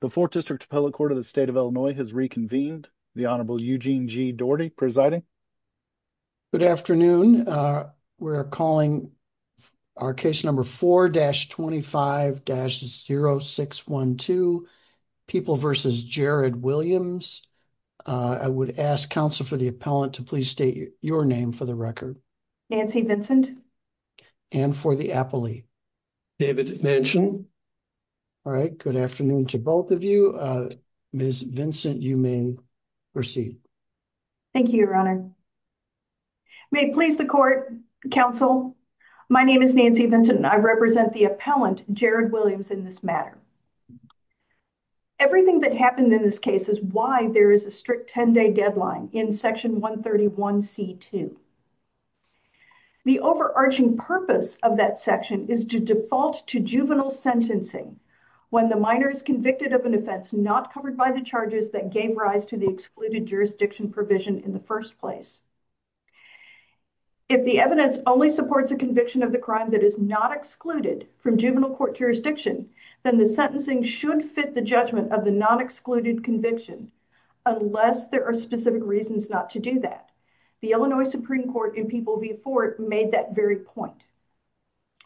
The 4th District Appellate Court of the State of Illinois has reconvened. The Honorable Eugene G. Daugherty presiding. Good afternoon. We're calling our case number 4-25-0612, People v. Jared Williams. I would ask counsel for the appellant to please state your name for the record. Nancy Vincent. And for the appellee? David Manchin. All right. Good afternoon to both of you. Ms. Vincent, you may proceed. Thank you, Your Honor. May it please the court, counsel, my name is Nancy Vincent and I represent the appellant, Jared Williams, in this matter. Everything that happened in this case is why there is a strict 10-day deadline in Section 131c.2. The overarching purpose of that section is to default to juvenile sentencing when the minor is convicted of an offense not covered by the charges that gave rise to the excluded jurisdiction provision in the first place. If the evidence only supports a conviction of the crime that is not excluded from juvenile court jurisdiction, then the sentencing should fit the judgment of the non-excluded conviction, unless there are specific reasons not to do that. The Illinois Supreme Court in People v. Fort made that very point.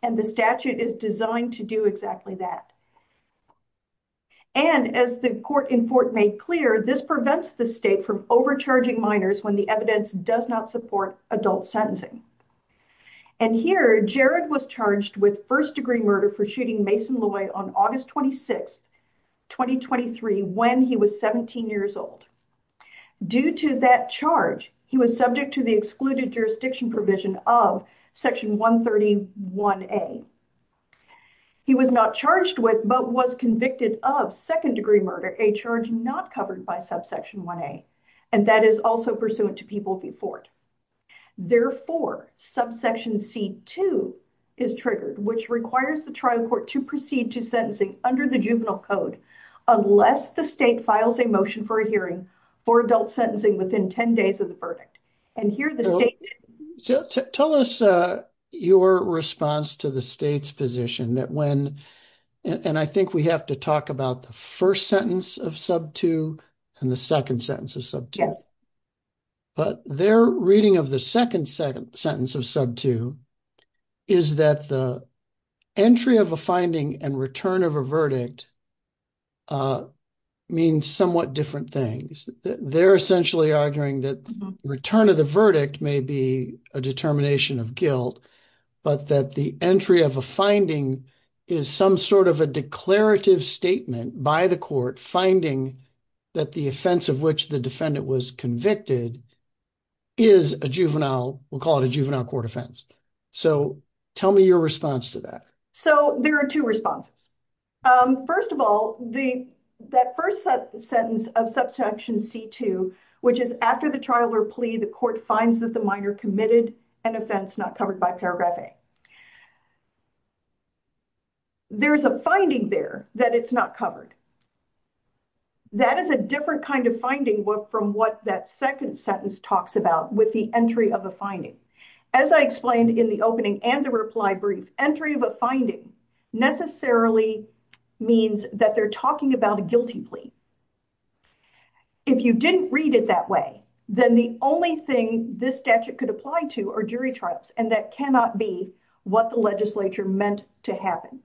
And the statute is designed to do exactly that. And as the court in Fort made clear, this prevents the state from overcharging minors when the evidence does not support adult sentencing. And here, Jared was charged with first degree murder for shooting Mason Loy on August 26, 2023, when he was 17 years old. Due to that charge, he was subject to the excluded jurisdiction provision of Section 131a. He was not charged with, but was convicted of, second degree murder, a charge not covered by Subsection 1a, and that is also pursuant to People v. Fort. Therefore, Subsection c. 2 is triggered, which requires the trial court to proceed to sentencing under the juvenile code, unless the state files a motion for a hearing for adult sentencing within 10 days of the verdict. And here the state... Tell us your response to the state's position that when, and I think we have to talk about the first sentence of Sub 2 and the second sentence of Sub 2. Yes, but their reading of the second sentence of Sub 2 is that the entry of a finding and return of a verdict means somewhat different things. They're essentially arguing that return of the verdict may be a determination of guilt, but that the entry of a finding is some sort of a declarative statement by the court, finding that the offense of which the defendant was convicted is a juvenile, we'll call it a juvenile court offense. So, tell me your response to that. So, there are two responses. First of all, that first sentence of Subsection c. 2, which is after the trial or plea, the court finds that the minor committed an offense not covered by Paragraph a. There's a finding there that it's not covered. That is a different kind of finding from what that second sentence talks about with the entry of a finding. As I explained in the opening and the reply brief, entry of a finding necessarily means that they're talking about a guilty plea. If you didn't read it that way, then the only thing this statute could apply to are jury trials, and that cannot be what the legislature meant to happen.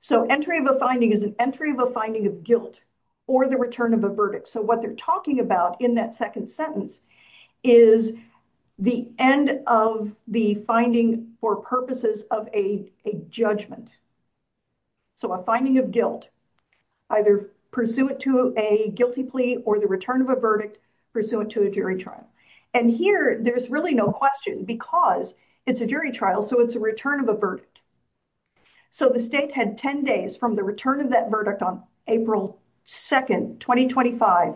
So, entry of a finding is an entry of a finding of guilt or the return of a verdict. So, what they're talking about in that second sentence is the end of the finding for purposes of a judgment. So, a finding of guilt, either pursuant to a guilty plea or the return of a verdict pursuant to a jury trial. And here, there's really no question because it's a jury trial, so it's a return of a verdict. So, the state had 10 days from the return of that verdict on April 2nd, 2025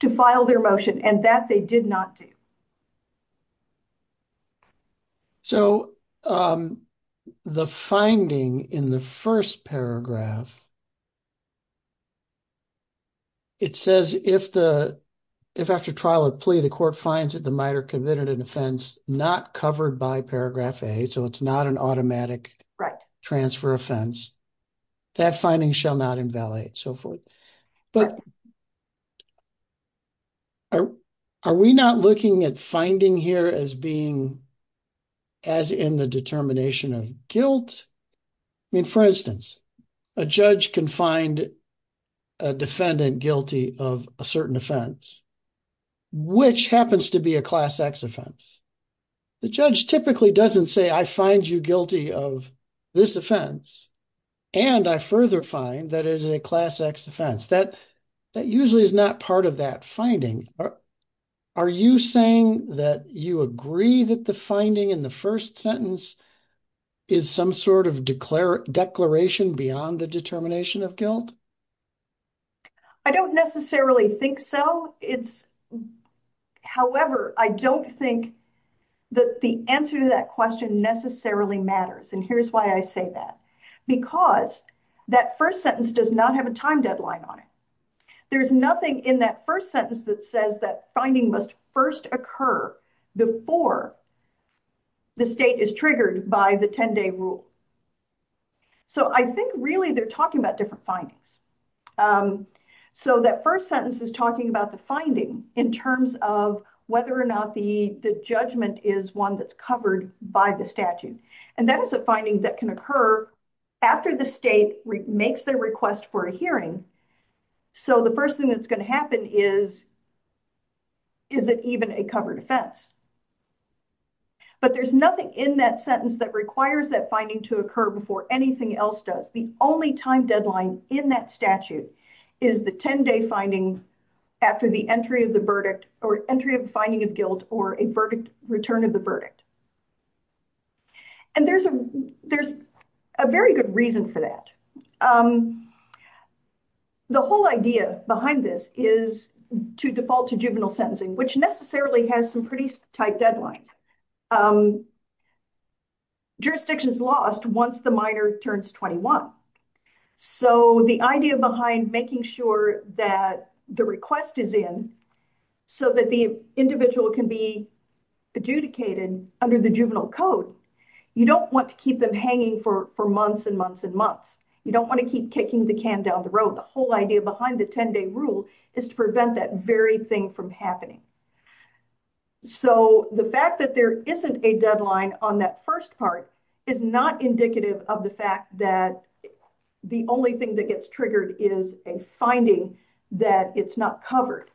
to file their motion, and that they did not do. So, the finding in the first paragraph, it says if after trial or plea, the court finds that the minor committed an offense not covered by paragraph A, so it's not an automatic transfer offense, that finding shall not invalidate, so forth. But are we not looking at finding here as being as in the determination of guilt? I mean, for instance, a judge can find a defendant guilty of a certain offense, which happens to be a Class X offense. The judge typically doesn't say, I find you guilty of this offense, and I further find that it is a Class X offense. That usually is not part of that finding. Are you saying that you agree that the finding in the first sentence is some sort of declaration beyond the determination of guilt? I don't necessarily think so. However, I don't think that the answer to that question necessarily matters, and here's why I say that. Because that first sentence does not have a time deadline on it. There's nothing in that first sentence that says that finding must first occur before the state is triggered by the 10-day rule. So, I think really they're talking about different findings. So, that first sentence is talking about the finding in terms of whether or not the judgment is one that's covered by the statute. And that is a finding that can occur after the state makes their request for a hearing. So, the first thing that's going to happen is, is it even a covered offense? But there's nothing in that sentence that requires that finding to occur before anything else does. The only time deadline in that statute is the 10-day finding after the entry of the verdict, or entry of finding of guilt, or a verdict, return of the verdict. And there's a, there's a very good reason for that. The whole idea behind this is to default to juvenile sentencing, which necessarily has some pretty tight deadlines. Jurisdictions lost once the minor turns 21. So, the idea behind making sure that the request is in, so that the individual can be adjudicated under the juvenile code. You don't want to keep them hanging for months and months and months. You don't want to keep kicking the can down the road. The whole idea behind the 10-day rule is to prevent that very thing from happening. So, the fact that there isn't a deadline on that first part is not indicative of the fact that the only thing that gets triggered is a finding that it's not covered.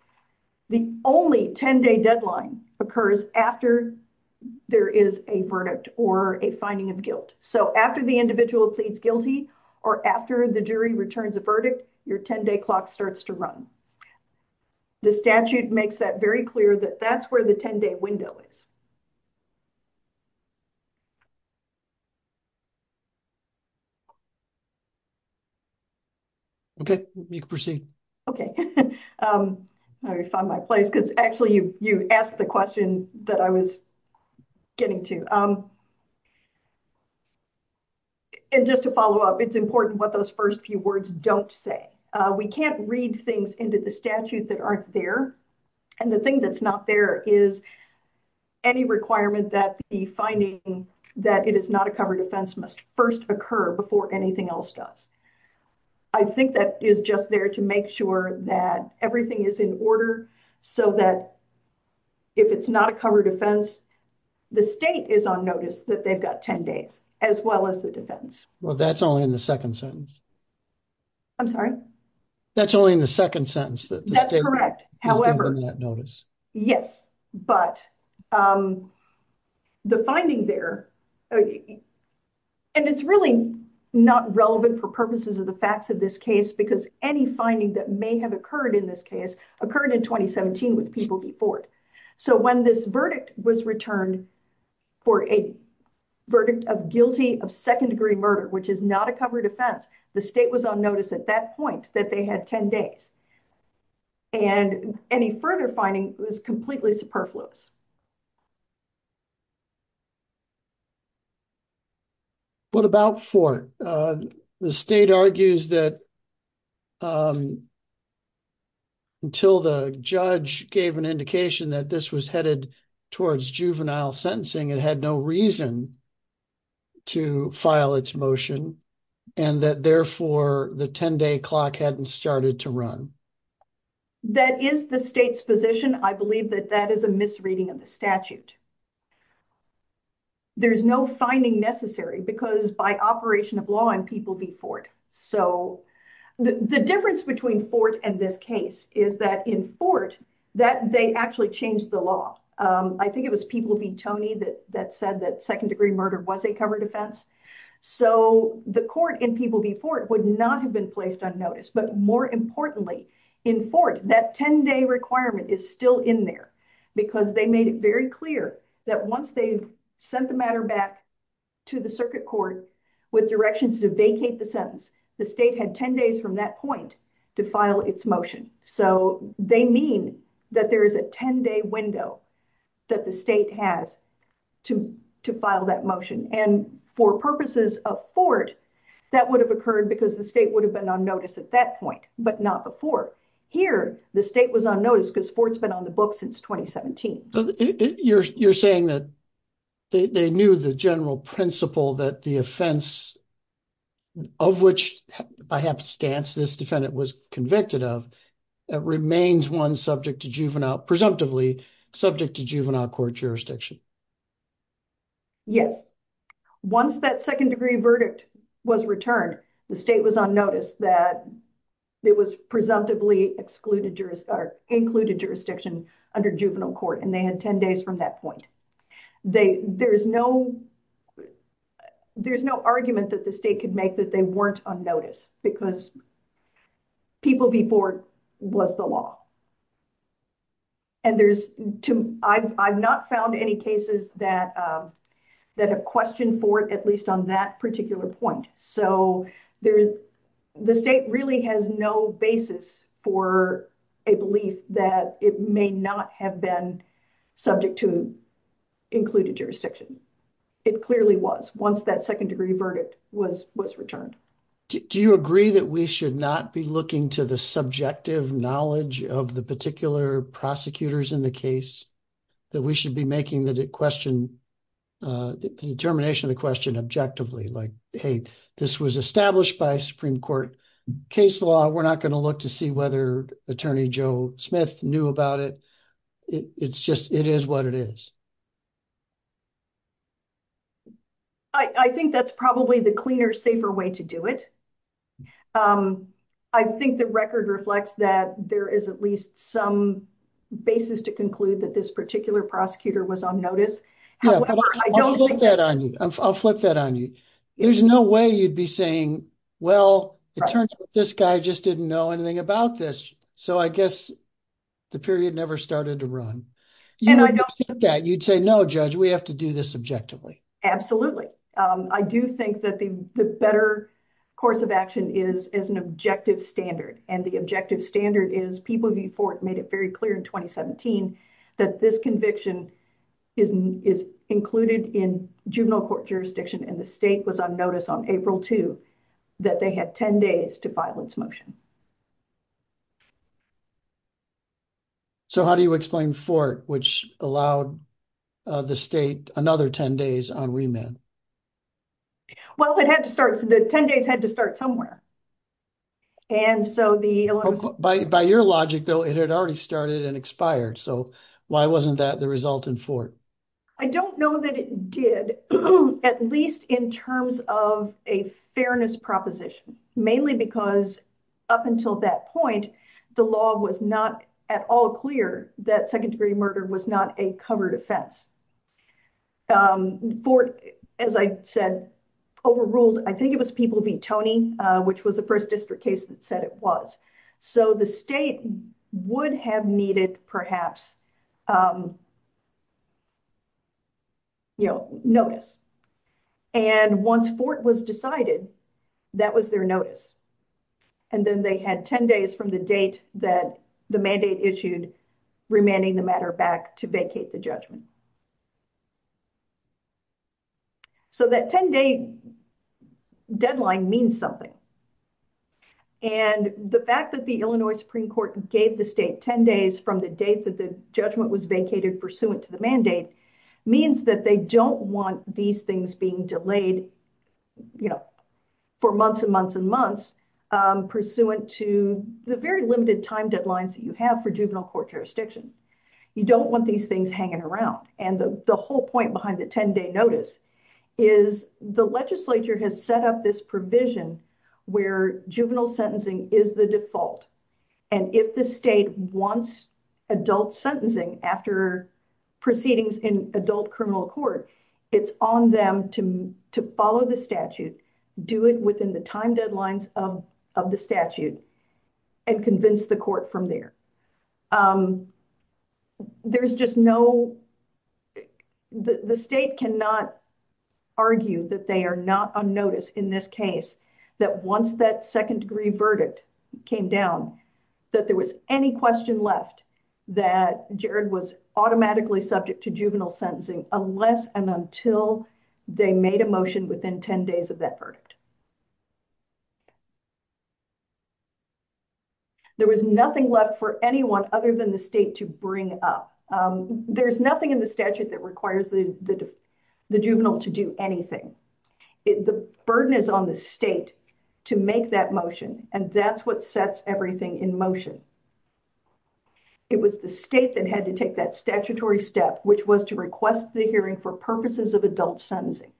The only 10-day deadline occurs after there is a verdict or a finding of guilt. So, after the individual pleads guilty, or after the jury returns a verdict, your 10-day clock starts to run. And the statute makes that very clear that that's where the 10-day window is. Okay, you can proceed. Okay, I already found my place because actually you asked the question that I was getting to. And just to follow up, it's important what those first few words don't say. We can't read things into the statute that aren't there. And the thing that's not there is any requirement that the finding that it is not a covered offense must first occur before anything else does. I think that is just there to make sure that everything is in order so that if it's not a covered offense, the state is on notice that they've got 10 days, as well as the defense. Well, that's only in the second sentence. I'm sorry? That's only in the second sentence. That's correct. However, yes, but the finding there, and it's really not relevant for purposes of the facts of this case, because any finding that may have occurred in this case occurred in 2017 with people before it. So, when this verdict was returned for a verdict of guilty of second-degree murder, which is not a covered offense, the state was on notice at that point that they had 10 days. And any further finding was completely superfluous. What about Fort? The state argues that until the judge gave an indication that this was headed towards juvenile sentencing, it had no reason to file its motion, and that therefore the 10-day clock hadn't started to run. That is the state's position. I believe that that is a misreading of the statute. There's no finding necessary because by operation of law and people before it. So, the difference between Fort and this case is that in Fort, they actually changed the law. I think it was People v. Tony that said that second-degree murder was a covered offense. So, the court in People v. Fort would not have been placed on notice. But more importantly, in Fort, that 10-day requirement is still in there because they made it very clear that once they sent the matter back to the circuit court with directions to vacate the sentence, the state had 10 days from that point to file its motion. So, they mean that there is a 10-day window that the state has to file that motion. And for purposes of Fort, that would have occurred because the state would have been on notice at that point, but not before. Here, the state was on notice because Fort's been on the books since 2017. You're saying that they knew the general principle that the offense of which, by happenstance, this defendant was convicted of, it remains presumptively subject to juvenile court jurisdiction. Yes. Once that second-degree verdict was returned, the state was on notice that it was presumptively included jurisdiction under juvenile court, and they had 10 days from that point. There is no argument that the state could make that they weren't on notice because People v. Fort was the law. And I've not found any cases that have questioned Fort, at least on that particular point. So, the state really has no basis for a belief that it may not have been subject to included jurisdiction. It clearly was, once that second-degree verdict was returned. Do you agree that we should not be looking to the subjective knowledge of the particular prosecutors in the case? That we should be making the determination of the question objectively? Like, hey, this was established by Supreme Court case law. We're not going to look to see whether Attorney Joe Smith knew about it. It's just, it is what it is. I think that's probably the cleaner, safer way to do it. I think the record reflects that there is at least some basis to conclude that this particular prosecutor was on notice. Yeah, I'll flip that on you. There's no way you'd be saying, well, it turns out this guy just didn't know anything about this. So, I guess the period never started to run. You'd say, no, Judge, we have to do this objectively. Absolutely. I do think that the better course of action is as an objective standard. And the objective standard is, People v. Fort made it very clear in 2017 that this conviction is included in juvenile court jurisdiction. And the state was on notice on April 2 that they had 10 days to file its motion. So, how do you explain Fort, which allowed the state another 10 days on remand? Well, it had to start, the 10 days had to start somewhere. And so, by your logic, though, it had already started and expired. So, why wasn't that the result in Fort? I don't know that it did, at least in terms of a fairness proposition, mainly because up until that point, the law was not at all clear that second degree murder was not a covered offense. Fort, as I said, overruled, I think it was People v. Tony, which was the first district case that said it was. So, the state would have needed, perhaps, notice. And once Fort was decided, that was their notice. And then they had 10 days from the date that the mandate issued remanding the matter back to vacate the judgment. So, that 10-day deadline means something. And the fact that the Illinois Supreme Court gave the state 10 days from the date that the judgment was vacated pursuant to the mandate means that they don't want these things being delayed for months and months and months pursuant to the very limited time deadlines that you have for juvenile court jurisdiction. You don't want these things hanging around. And the whole point behind the 10-day notice is the legislature has set up this provision where juvenile sentencing is the default. And if the state wants adult sentencing after proceedings in adult criminal court, it's on them to follow the statute, do it within the time deadlines of the statute, and convince the court from there. There's just no... The state cannot argue that they are not on notice in this case, that once that second degree verdict came down, that there was any question left, that Jared was automatically subject to juvenile sentencing unless and until they made a motion within 10 days of that verdict. There was nothing left for anyone other than the state to bring up. There's nothing in the statute that requires the juvenile to do anything. The burden is on the state to make that motion. And that's what sets everything in motion. It was the state that had to take that statutory step, which was to request the hearing for purposes of adult sentencing.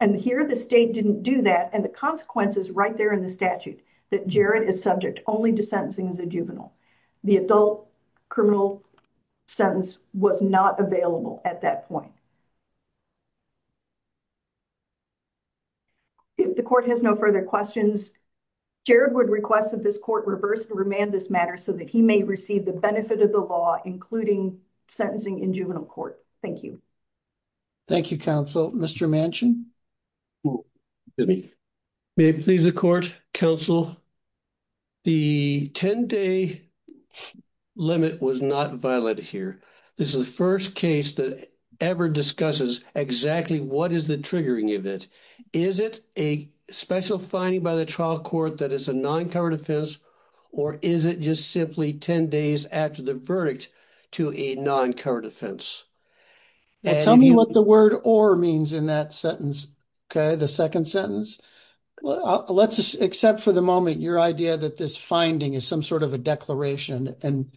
And here the state didn't do that. And the consequence is right there in the statute, that Jared is subject only to sentencing as a juvenile. The adult criminal sentence was not available at that point. If the court has no further questions, Jared would request that this court reverse and remand this matter so that he may receive the benefit of the law, including sentencing in juvenile court. Thank you. Thank you, counsel. Mr. Manchin. May it please the court, counsel. The 10-day limit was not violated here. This is the first case that ever discusses exactly what is the triggering event. Is it a special finding by the trial court that is a non-covered offense, or is it just simply 10 days after the verdict to a non-covered offense? Tell me what the word or means in that sentence. Okay, the second sentence. Let's accept for the moment your idea that this finding is some sort of a declaration and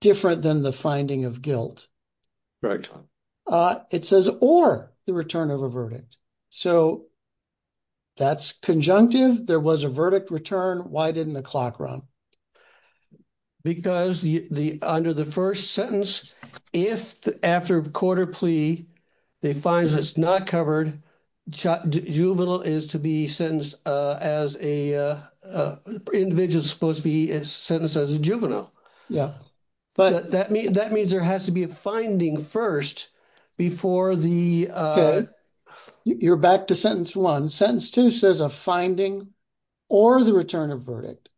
different than the finding of guilt. Right. It says or the return of a verdict. So that's conjunctive. There was a verdict return. Why didn't the clock run? Because under the first sentence, if after a court of plea, they find that it's not covered, juvenile is to be sentenced as a... Individual is supposed to be sentenced as a juvenile. Yeah. That means there has to be a finding first before the... Okay, you're back to sentence one. Sentence two says a finding or the return of verdict.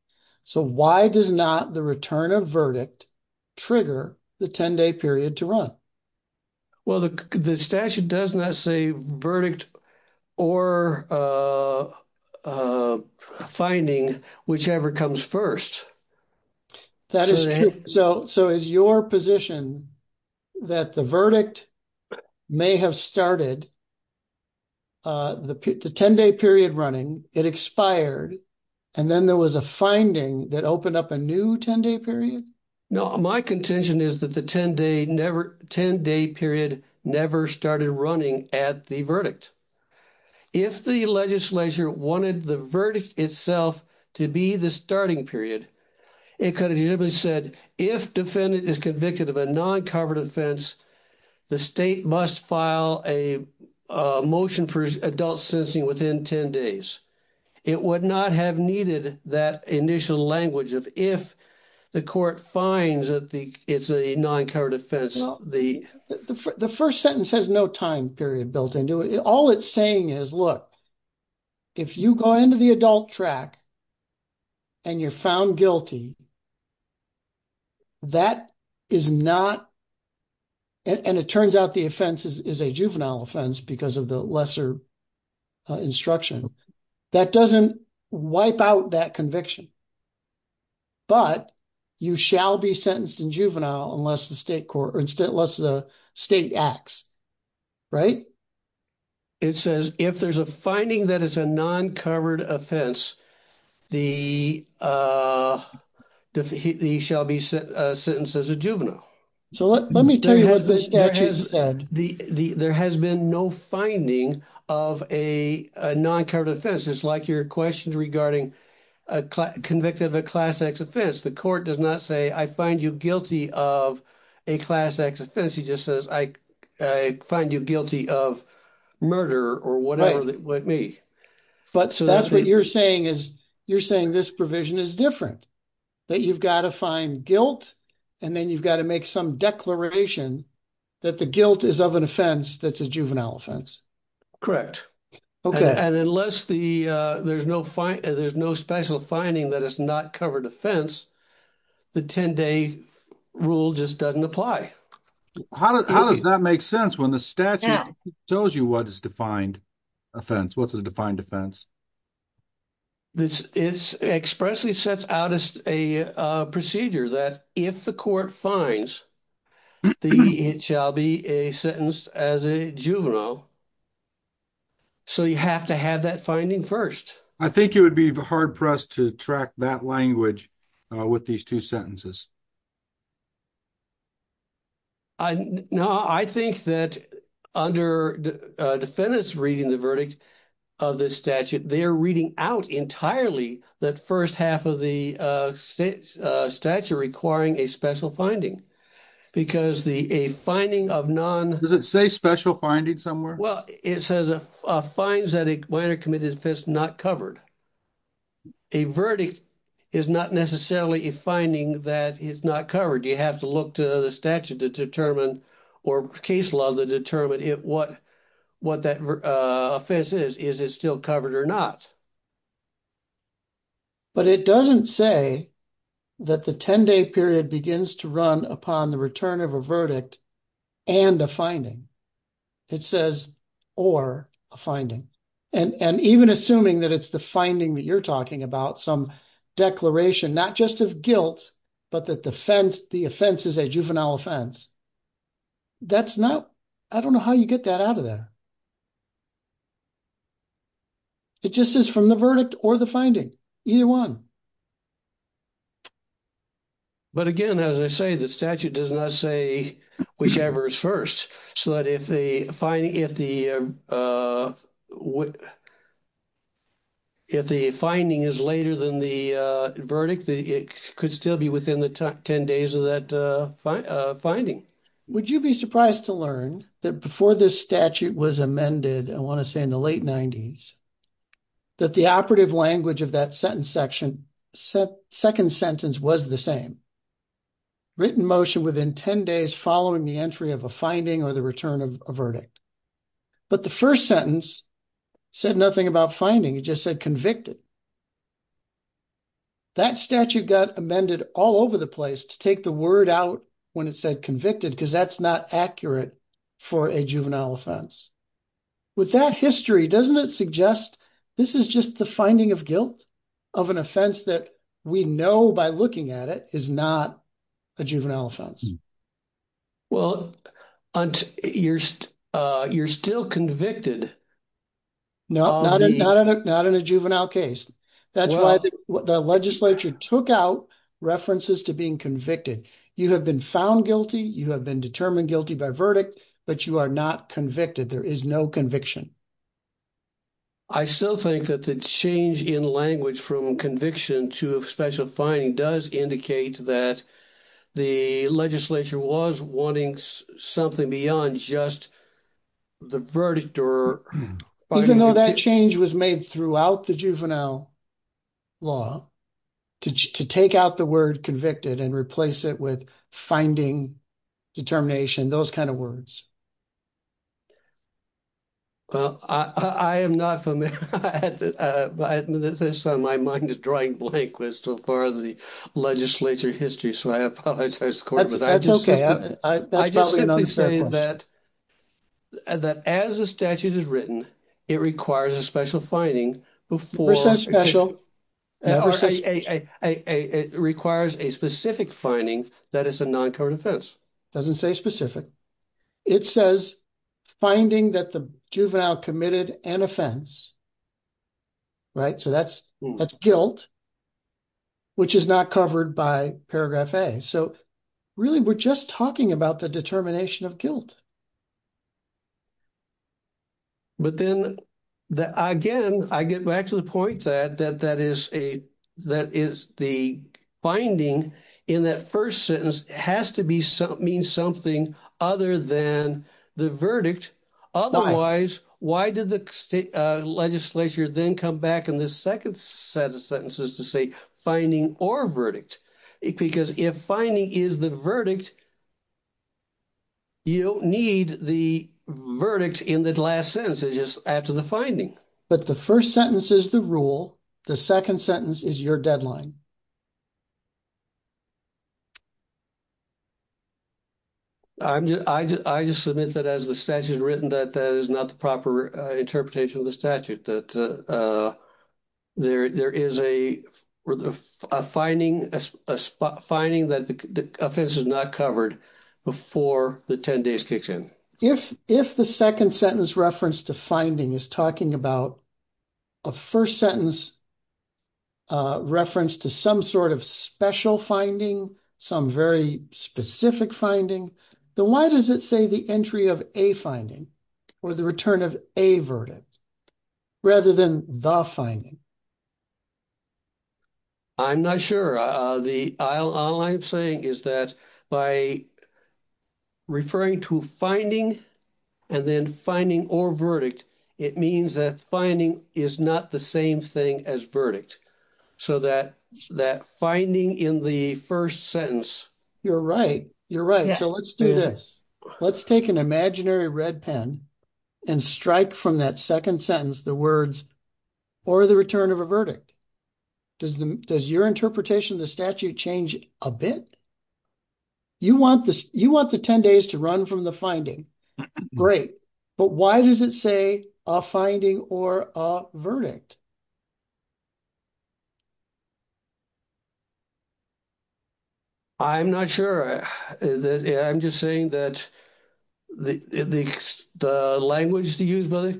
So why does not the return of verdict trigger the 10-day period to run? Well, the statute does not say verdict or finding, whichever comes first. That is true. So is your position that the verdict may have started the 10-day period running, it expired, and then there was a finding that opened up a new 10-day period? No, my contention is that the 10-day period never started running at the verdict. If the legislature wanted the verdict itself to be the starting period, it could have simply said, if defendant is convicted of a non-covered offense, the state must file a motion for adult sentencing within 10 days. It would not have needed that initial language of if the court finds that it's a non-covered offense, the... The first sentence has no time period built into it. All it's saying is, look, if you go into the adult track and you're found guilty, that is not... And it turns out the offense is a juvenile offense because of the lesser instruction. That doesn't wipe out that conviction. But you shall be sentenced in juvenile unless the state acts, right? It says, if there's a finding that it's a non-covered offense, he shall be sentenced as a juvenile. So let me tell you what the statute said. There has been no finding of a non-covered offense. It's like your question regarding a convicted of a Class X offense. The court does not say, I find you guilty of a Class X offense. He just says, I find you guilty of murder or whatever with me. But that's what you're saying is, you're saying this provision is different. That you've got to find guilt and then you've got to make some declaration that the guilt is of an offense that's a juvenile offense. And unless there's no special finding that it's not covered offense, the 10-day rule just doesn't apply. How does that make sense when the statute tells you what is defined offense? What's a defined offense? It expressly sets out a procedure that if the court finds, it shall be a sentence as a juvenile. So you have to have that finding first. I think you would be hard-pressed to track that language with these two sentences. No, I think that under defendants reading the verdict of this statute, they're reading out entirely that first half of the statute requiring a special finding. Because a finding of non... Does it say special finding somewhere? Well, it says, finds that a minor committed offense not covered. A verdict is not necessarily a finding that a minor committed offense is not covered. You have to look to the statute to determine or case law to determine what that offense is. Is it still covered or not? But it doesn't say that the 10-day period begins to run upon the return of a verdict and a finding. It says, or a finding. And even assuming that it's the finding that you're talking about, some declaration, not just of guilt, but that the offense is a juvenile offense. That's not... I don't know how you get that out of there. It just is from the verdict or the finding, either one. But again, as I say, the statute does not say whichever is first. So that if the finding is later than the verdict, it could still be within the 10 days of that finding. Would you be surprised to learn that before this statute was amended, I want to say in the late 90s, that the operative language of that second sentence was the same? Written motion within 10 days following the entry of a finding or the return of a verdict. But the first sentence said nothing about finding, it just said convicted. That statute got amended all over the place to take the word out when it said convicted because that's not accurate for a juvenile offense. With that history, doesn't it suggest this is just the finding of guilt of an offense that we know by looking at it is not a juvenile offense? You're still convicted. No, not in a juvenile case. That's why the legislature took out references to being convicted. You have been found guilty. You have been determined guilty by verdict, but you are not convicted. There is no conviction. I still think that the change in language from conviction to a special finding does indicate that the legislature was wanting something beyond just the verdict or- Even though that change was made throughout the juvenile law to take out the word convicted and replace it with finding, determination, those kinds of words. Well, I am not familiar with this, so my mind is drawing blank with so far of the legislature history, so I apologize to the court. That's okay, that's probably not a fair question. I just simply say that as the statute is written, it requires a special finding before- It says special. Or say it requires a specific finding that it's a non-covered offense. It doesn't say specific. It says finding that the juvenile committed an offense, right? So that's guilt, which is not covered by paragraph A. So really, we're just talking about the determination of guilt. But then, again, I get back to the point that that is the finding in that first sentence has to mean something other than the verdict. Otherwise, why did the legislature then come back in the second set of sentences to say finding or verdict? Because if finding is the verdict, you don't need the verdict in the last sentence. It's just after the finding. But the first sentence is the rule, the second sentence is your deadline. I just submit that as the statute is written, that that is not the proper interpretation of the statute, that there is a finding that the offense is not covered before the 10 days kicks in. If the second sentence reference to finding is talking about a first sentence reference to some sort of special finding, some very specific finding, then why does it say the entry of a finding or the return of a verdict rather than the finding? I'm not sure. The all I'm saying is that by referring to finding and then finding or verdict, it means that finding is not the same thing as verdict. So that finding in the first sentence. You're right. You're right. So let's do this. Let's take an imaginary red pen and strike from that second sentence the words or the return of a verdict. Does your interpretation of the statute change a bit? You want the 10 days to run from the finding. Great. But why does it say a finding or a verdict? I'm not sure. I'm just saying that the language to use by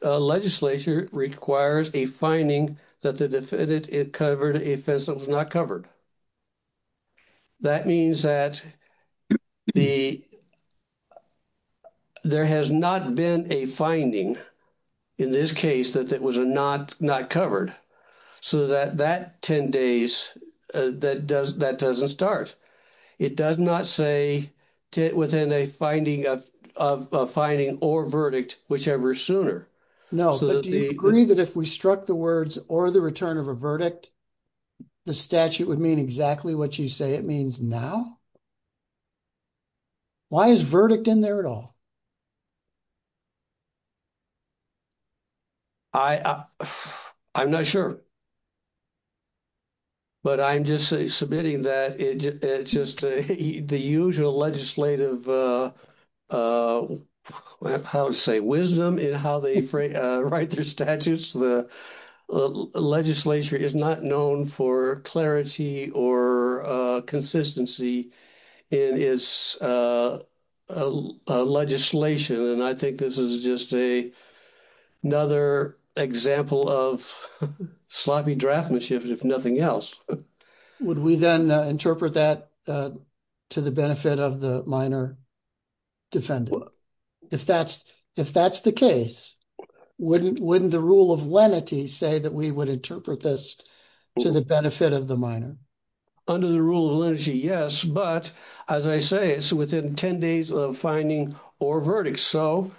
the legislature requires a finding that the defendant covered an offense that was not covered. That means that the there has not been a finding in this case that it was a not not covered so that that 10 days that does that doesn't start. It does not say within a finding of a finding or verdict, whichever sooner. No, but do you agree that if we struck the words or the return of a verdict, the statute would mean exactly what you say it means now? Why is verdict in there at all? I I'm not sure. But I'm just submitting that it's just the usual legislative. How to say wisdom in how they write their statutes. The legislature is not known for clarity or consistency in its legislation, and I think this is just a another example of sloppy draftmanship, if nothing else. Would we then interpret that to the benefit of the minor defendant? If that's if that's the case, wouldn't wouldn't the rule of lenity say that we would interpret this to the benefit of the minor under the rule of energy? Yes, but as I say, it's within 10 days of finding or verdict. So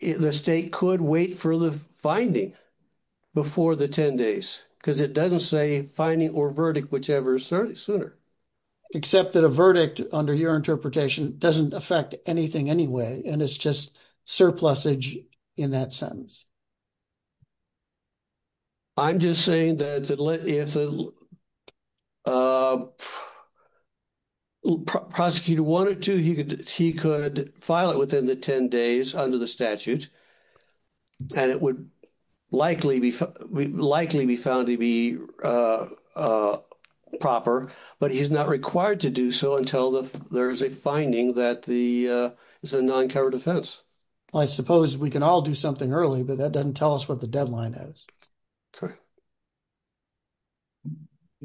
the state could wait for the finding. Before the 10 days, because it doesn't say finding or verdict, whichever is 30 sooner. Except that a verdict under your interpretation doesn't affect anything anyway, and it's just surplus age in that sentence. I'm just saying that if the. Prosecutor wanted to, he could he could file it within the 10 days under the statute. And it would likely be likely be found to be. A proper, but he's not required to do so until there's a finding that the is a non covered offense. I suppose we can all do something early, but that doesn't tell us what the deadline is.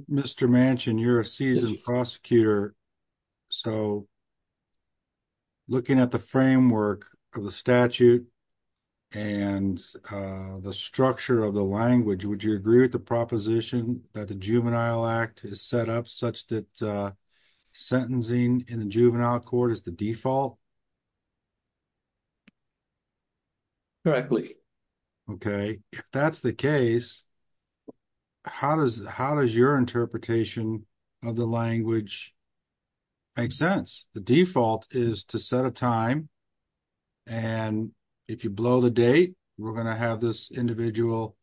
Mr. Manchin, you're a seasoned prosecutor. So looking at the framework of the statute. And the structure of the language, would you agree with the proposition that the juvenile act is set up such that. Sentencing in the juvenile court is the default. Correctly, OK, that's the case. How does how does your interpretation of the language? Make sense the default is to set a time. And if you blow the date, we're going to have this individual.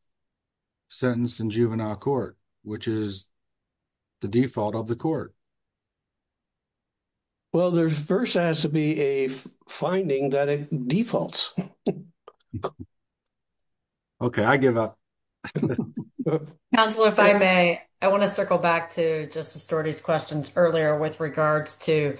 Sentence in juvenile court, which is. The default of the court. Well, there's 1st has to be a finding that it defaults. OK, I give up. Councilor, if I may, I want to circle back to questions earlier with regards to.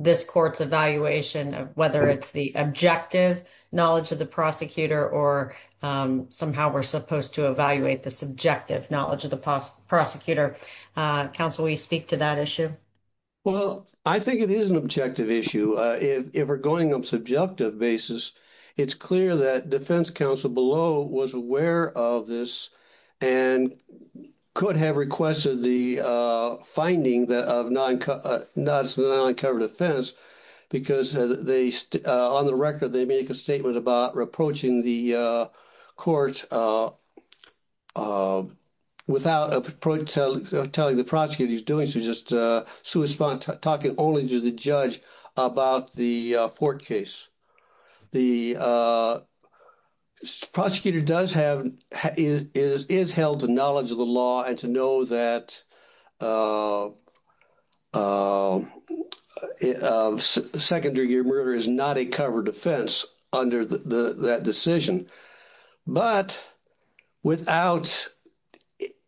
This court's evaluation of whether it's the objective knowledge of the prosecutor or. Somehow we're supposed to evaluate the subjective knowledge of the prosecutor. Council, we speak to that issue. Well, I think it is an objective issue if we're going on subjective basis. It's clear that defense counsel below was aware of this. And could have requested the finding that of non noncovered offense. Because they on the record, they make a statement about reproaching the court. Without telling the prosecutor he's doing so, just talking only to the judge about the court case. The. Prosecutor does have is held to knowledge of the law and to know that. Secondary murder is not a covered offense under that decision. But without.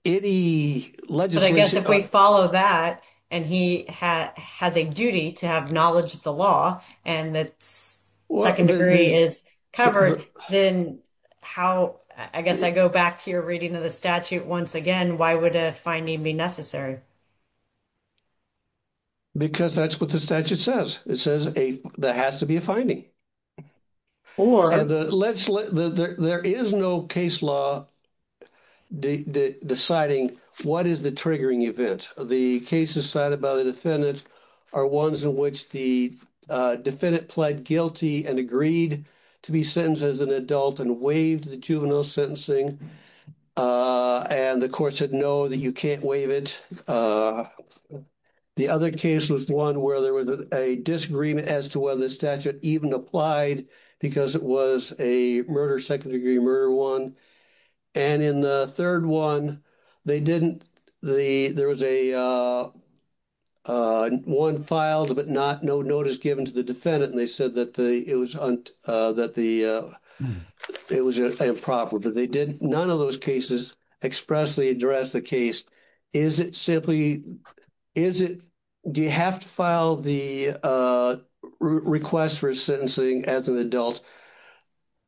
Any legislation, I guess, if we follow that and he has a duty to have knowledge of the law and that's what I can agree is covered. Then how I guess I go back to your reading of the statute once again, why would a finding be necessary? Because that's what the statute says. It says that has to be a finding. Or let's let there is no case law. Deciding what is the triggering event of the case decided by the defendant are ones in which the defendant pled guilty and agreed to be sentenced as an adult and waived the juvenile sentencing. And the court said, no, that you can't waive it. The other case was the one where there was a disagreement as to whether the statute even applied because it was a murder, secondary murder one. And in the third one, they didn't. The there was a one filed, but not no notice given to the defendant. And they said that it was that the it was improper, but they did. None of those cases expressly address the case. Is it simply is it do you have to file the request for sentencing as an adult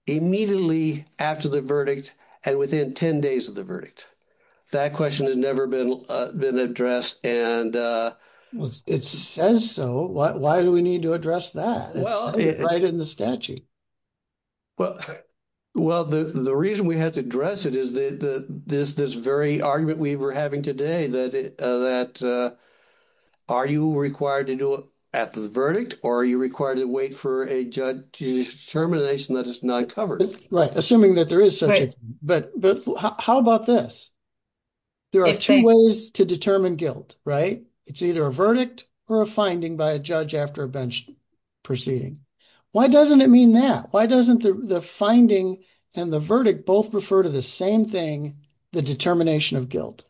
immediately after the verdict and within 10 days of the verdict? That question has never been been addressed. And it says so. Why do we need to address that right in the statute? Well, well, the reason we had to address it is that this this very argument we were having today that that are you required to do it after the verdict? Or are you required to wait for a judge to termination that is not covered? Right. Assuming that there is, but how about this? There are two ways to determine guilt, right? It's either a verdict or a finding by a judge after bench proceeding. Why doesn't it mean that? Why doesn't the finding and the verdict both refer to the same thing? The determination of guilt.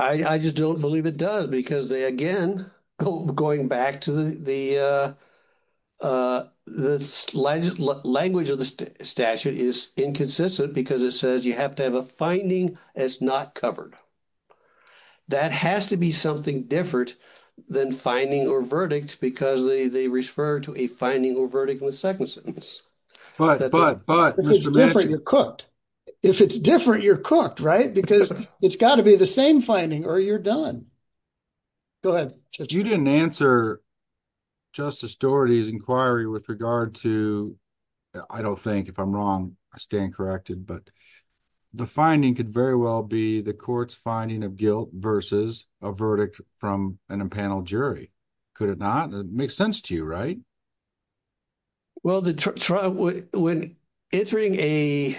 I just don't believe it does, because they again going back to the, the, the language of the statute is inconsistent because it says you have to have a finding. It's not covered. That has to be something different than finding or verdict because they they refer to a finding or verdict in the second sentence. But, but, but if it's different, you're cooked, right? Because it's got to be the same finding or you're done. Go ahead. You didn't answer Justice Doherty's inquiry with regard to. I don't think if I'm wrong, I stand corrected. But the finding could very well be the court's finding of guilt versus a verdict from an impanel jury. Could it not make sense to you, right? Well, the trial, when entering a,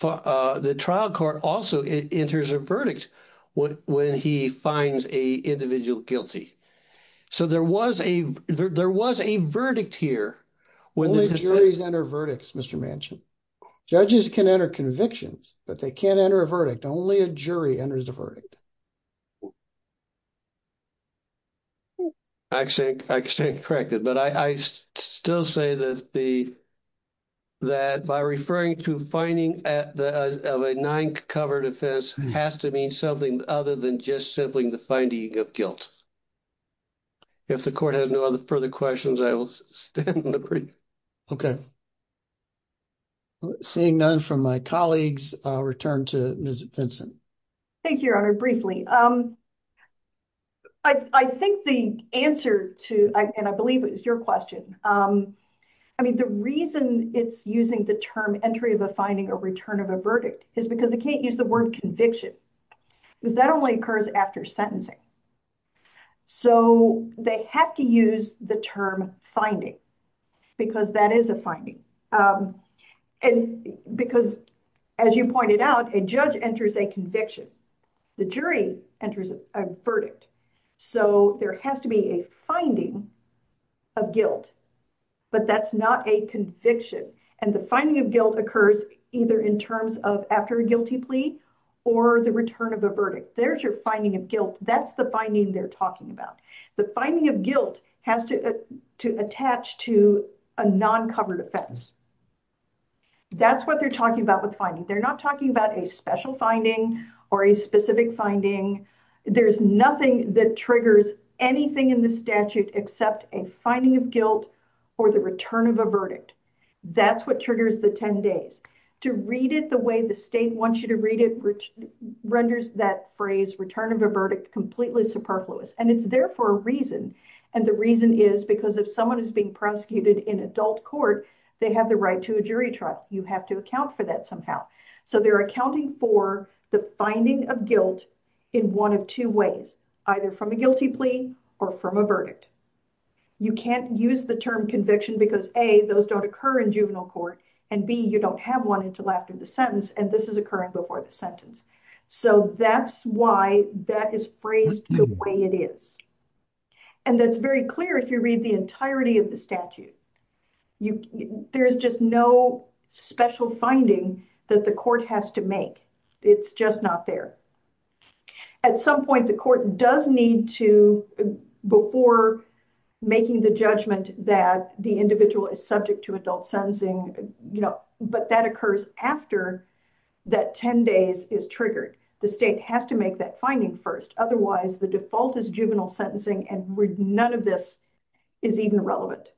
the trial court also enters a verdict when he finds a individual guilty. So there was a, there was a verdict here. Only juries enter verdicts, Mr. Manchin. Judges can enter convictions, but they can't enter a verdict. Only a jury enters the verdict. I stand corrected, but I, I still say that the, that by referring to finding at the, of a nine covered offense has to mean something other than just simply the finding of guilt. If the court has no other further questions, I will stand and agree. Seeing none from my colleagues, I'll return to Ms. Benson. Thank you, Your Honor. Briefing is over. I, I think the answer to, and I believe it was your question. I mean, the reason it's using the term entry of a finding or return of a verdict is because they can't use the word conviction because that only occurs after sentencing. So they have to use the term finding because that is a finding. And because as you pointed out, a judge enters a conviction. The jury enters a verdict. So there has to be a finding of guilt, but that's not a conviction. And the finding of guilt occurs either in terms of after a guilty plea or the return of a verdict. There's your finding of guilt. That's the finding they're talking about. The finding of guilt has to, to attach to a non-covered offense. That's what they're talking about with finding. They're not talking about a special finding or a specific finding. There's nothing that triggers anything in the statute except a finding of guilt or the return of a verdict. That's what triggers the 10 days. To read it the way the state wants you to read it renders that phrase, return of a verdict, completely superfluous. And it's there for a reason. And the reason is because if someone is being prosecuted in adult court, they have the right to a jury trial. You have to account for that somehow. So they're accounting for the finding of guilt in one of two ways, either from a guilty plea or from a verdict. You can't use the term conviction because A, those don't occur in juvenile court. And B, you don't have one until after the sentence. And this is occurring before the sentence. So that's why that is phrased the way it is. And that's very clear if you read the entirety of the statute. You there's just no special finding that the court has to make. It's just not there. At some point, the court does need to before making the judgment that the individual is subject to adult sentencing, you know, but that occurs after that 10 days is triggered. The state has to make that finding first. Otherwise, the default is juvenile sentencing. And none of this is even relevant.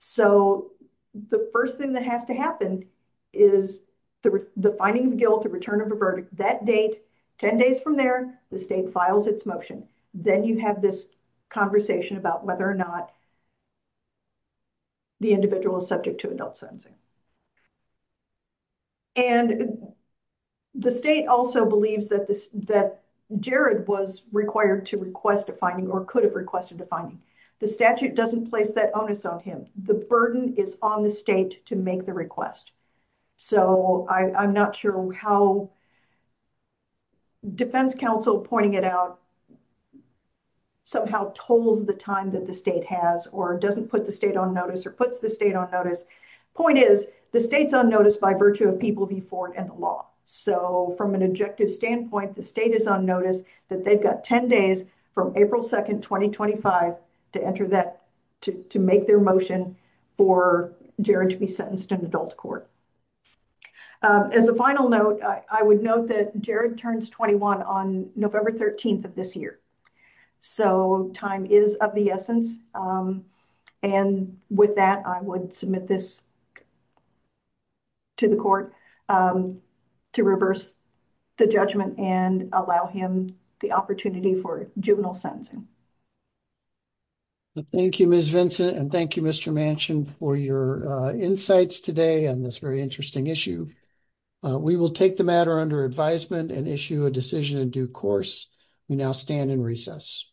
So the first thing that has to happen is the finding of guilt, the return of a verdict, that date, 10 days from there, the state files its motion. Then you have this conversation about whether or not the individual is subject to adult sentencing. And the state also believes that Jared was required to request a finding or could have requested a finding. The statute doesn't place that onus on him. The burden is on the state to make the request. So I'm not sure how defense counsel pointing it out somehow tolls the time that the state has or doesn't put the state on notice or puts the state on notice. Point is the state's on notice by virtue of people before and the law. So from an objective standpoint, the state is on notice that they've got 10 days from April 2nd, 2025 to enter that, to make their motion for Jared to be sentenced in adult court. As a final note, I would note that Jared turns 21 on November 13th of this year. So time is of the essence. And with that, I would submit this to the court to reverse the judgment and allow him the opportunity for juvenile sentencing. Thank you, Ms. Vincent. And thank you, Mr. Manchin, for your insights today on this very interesting issue. We will take the matter under advisement and issue a decision in due course. We now stand in recess.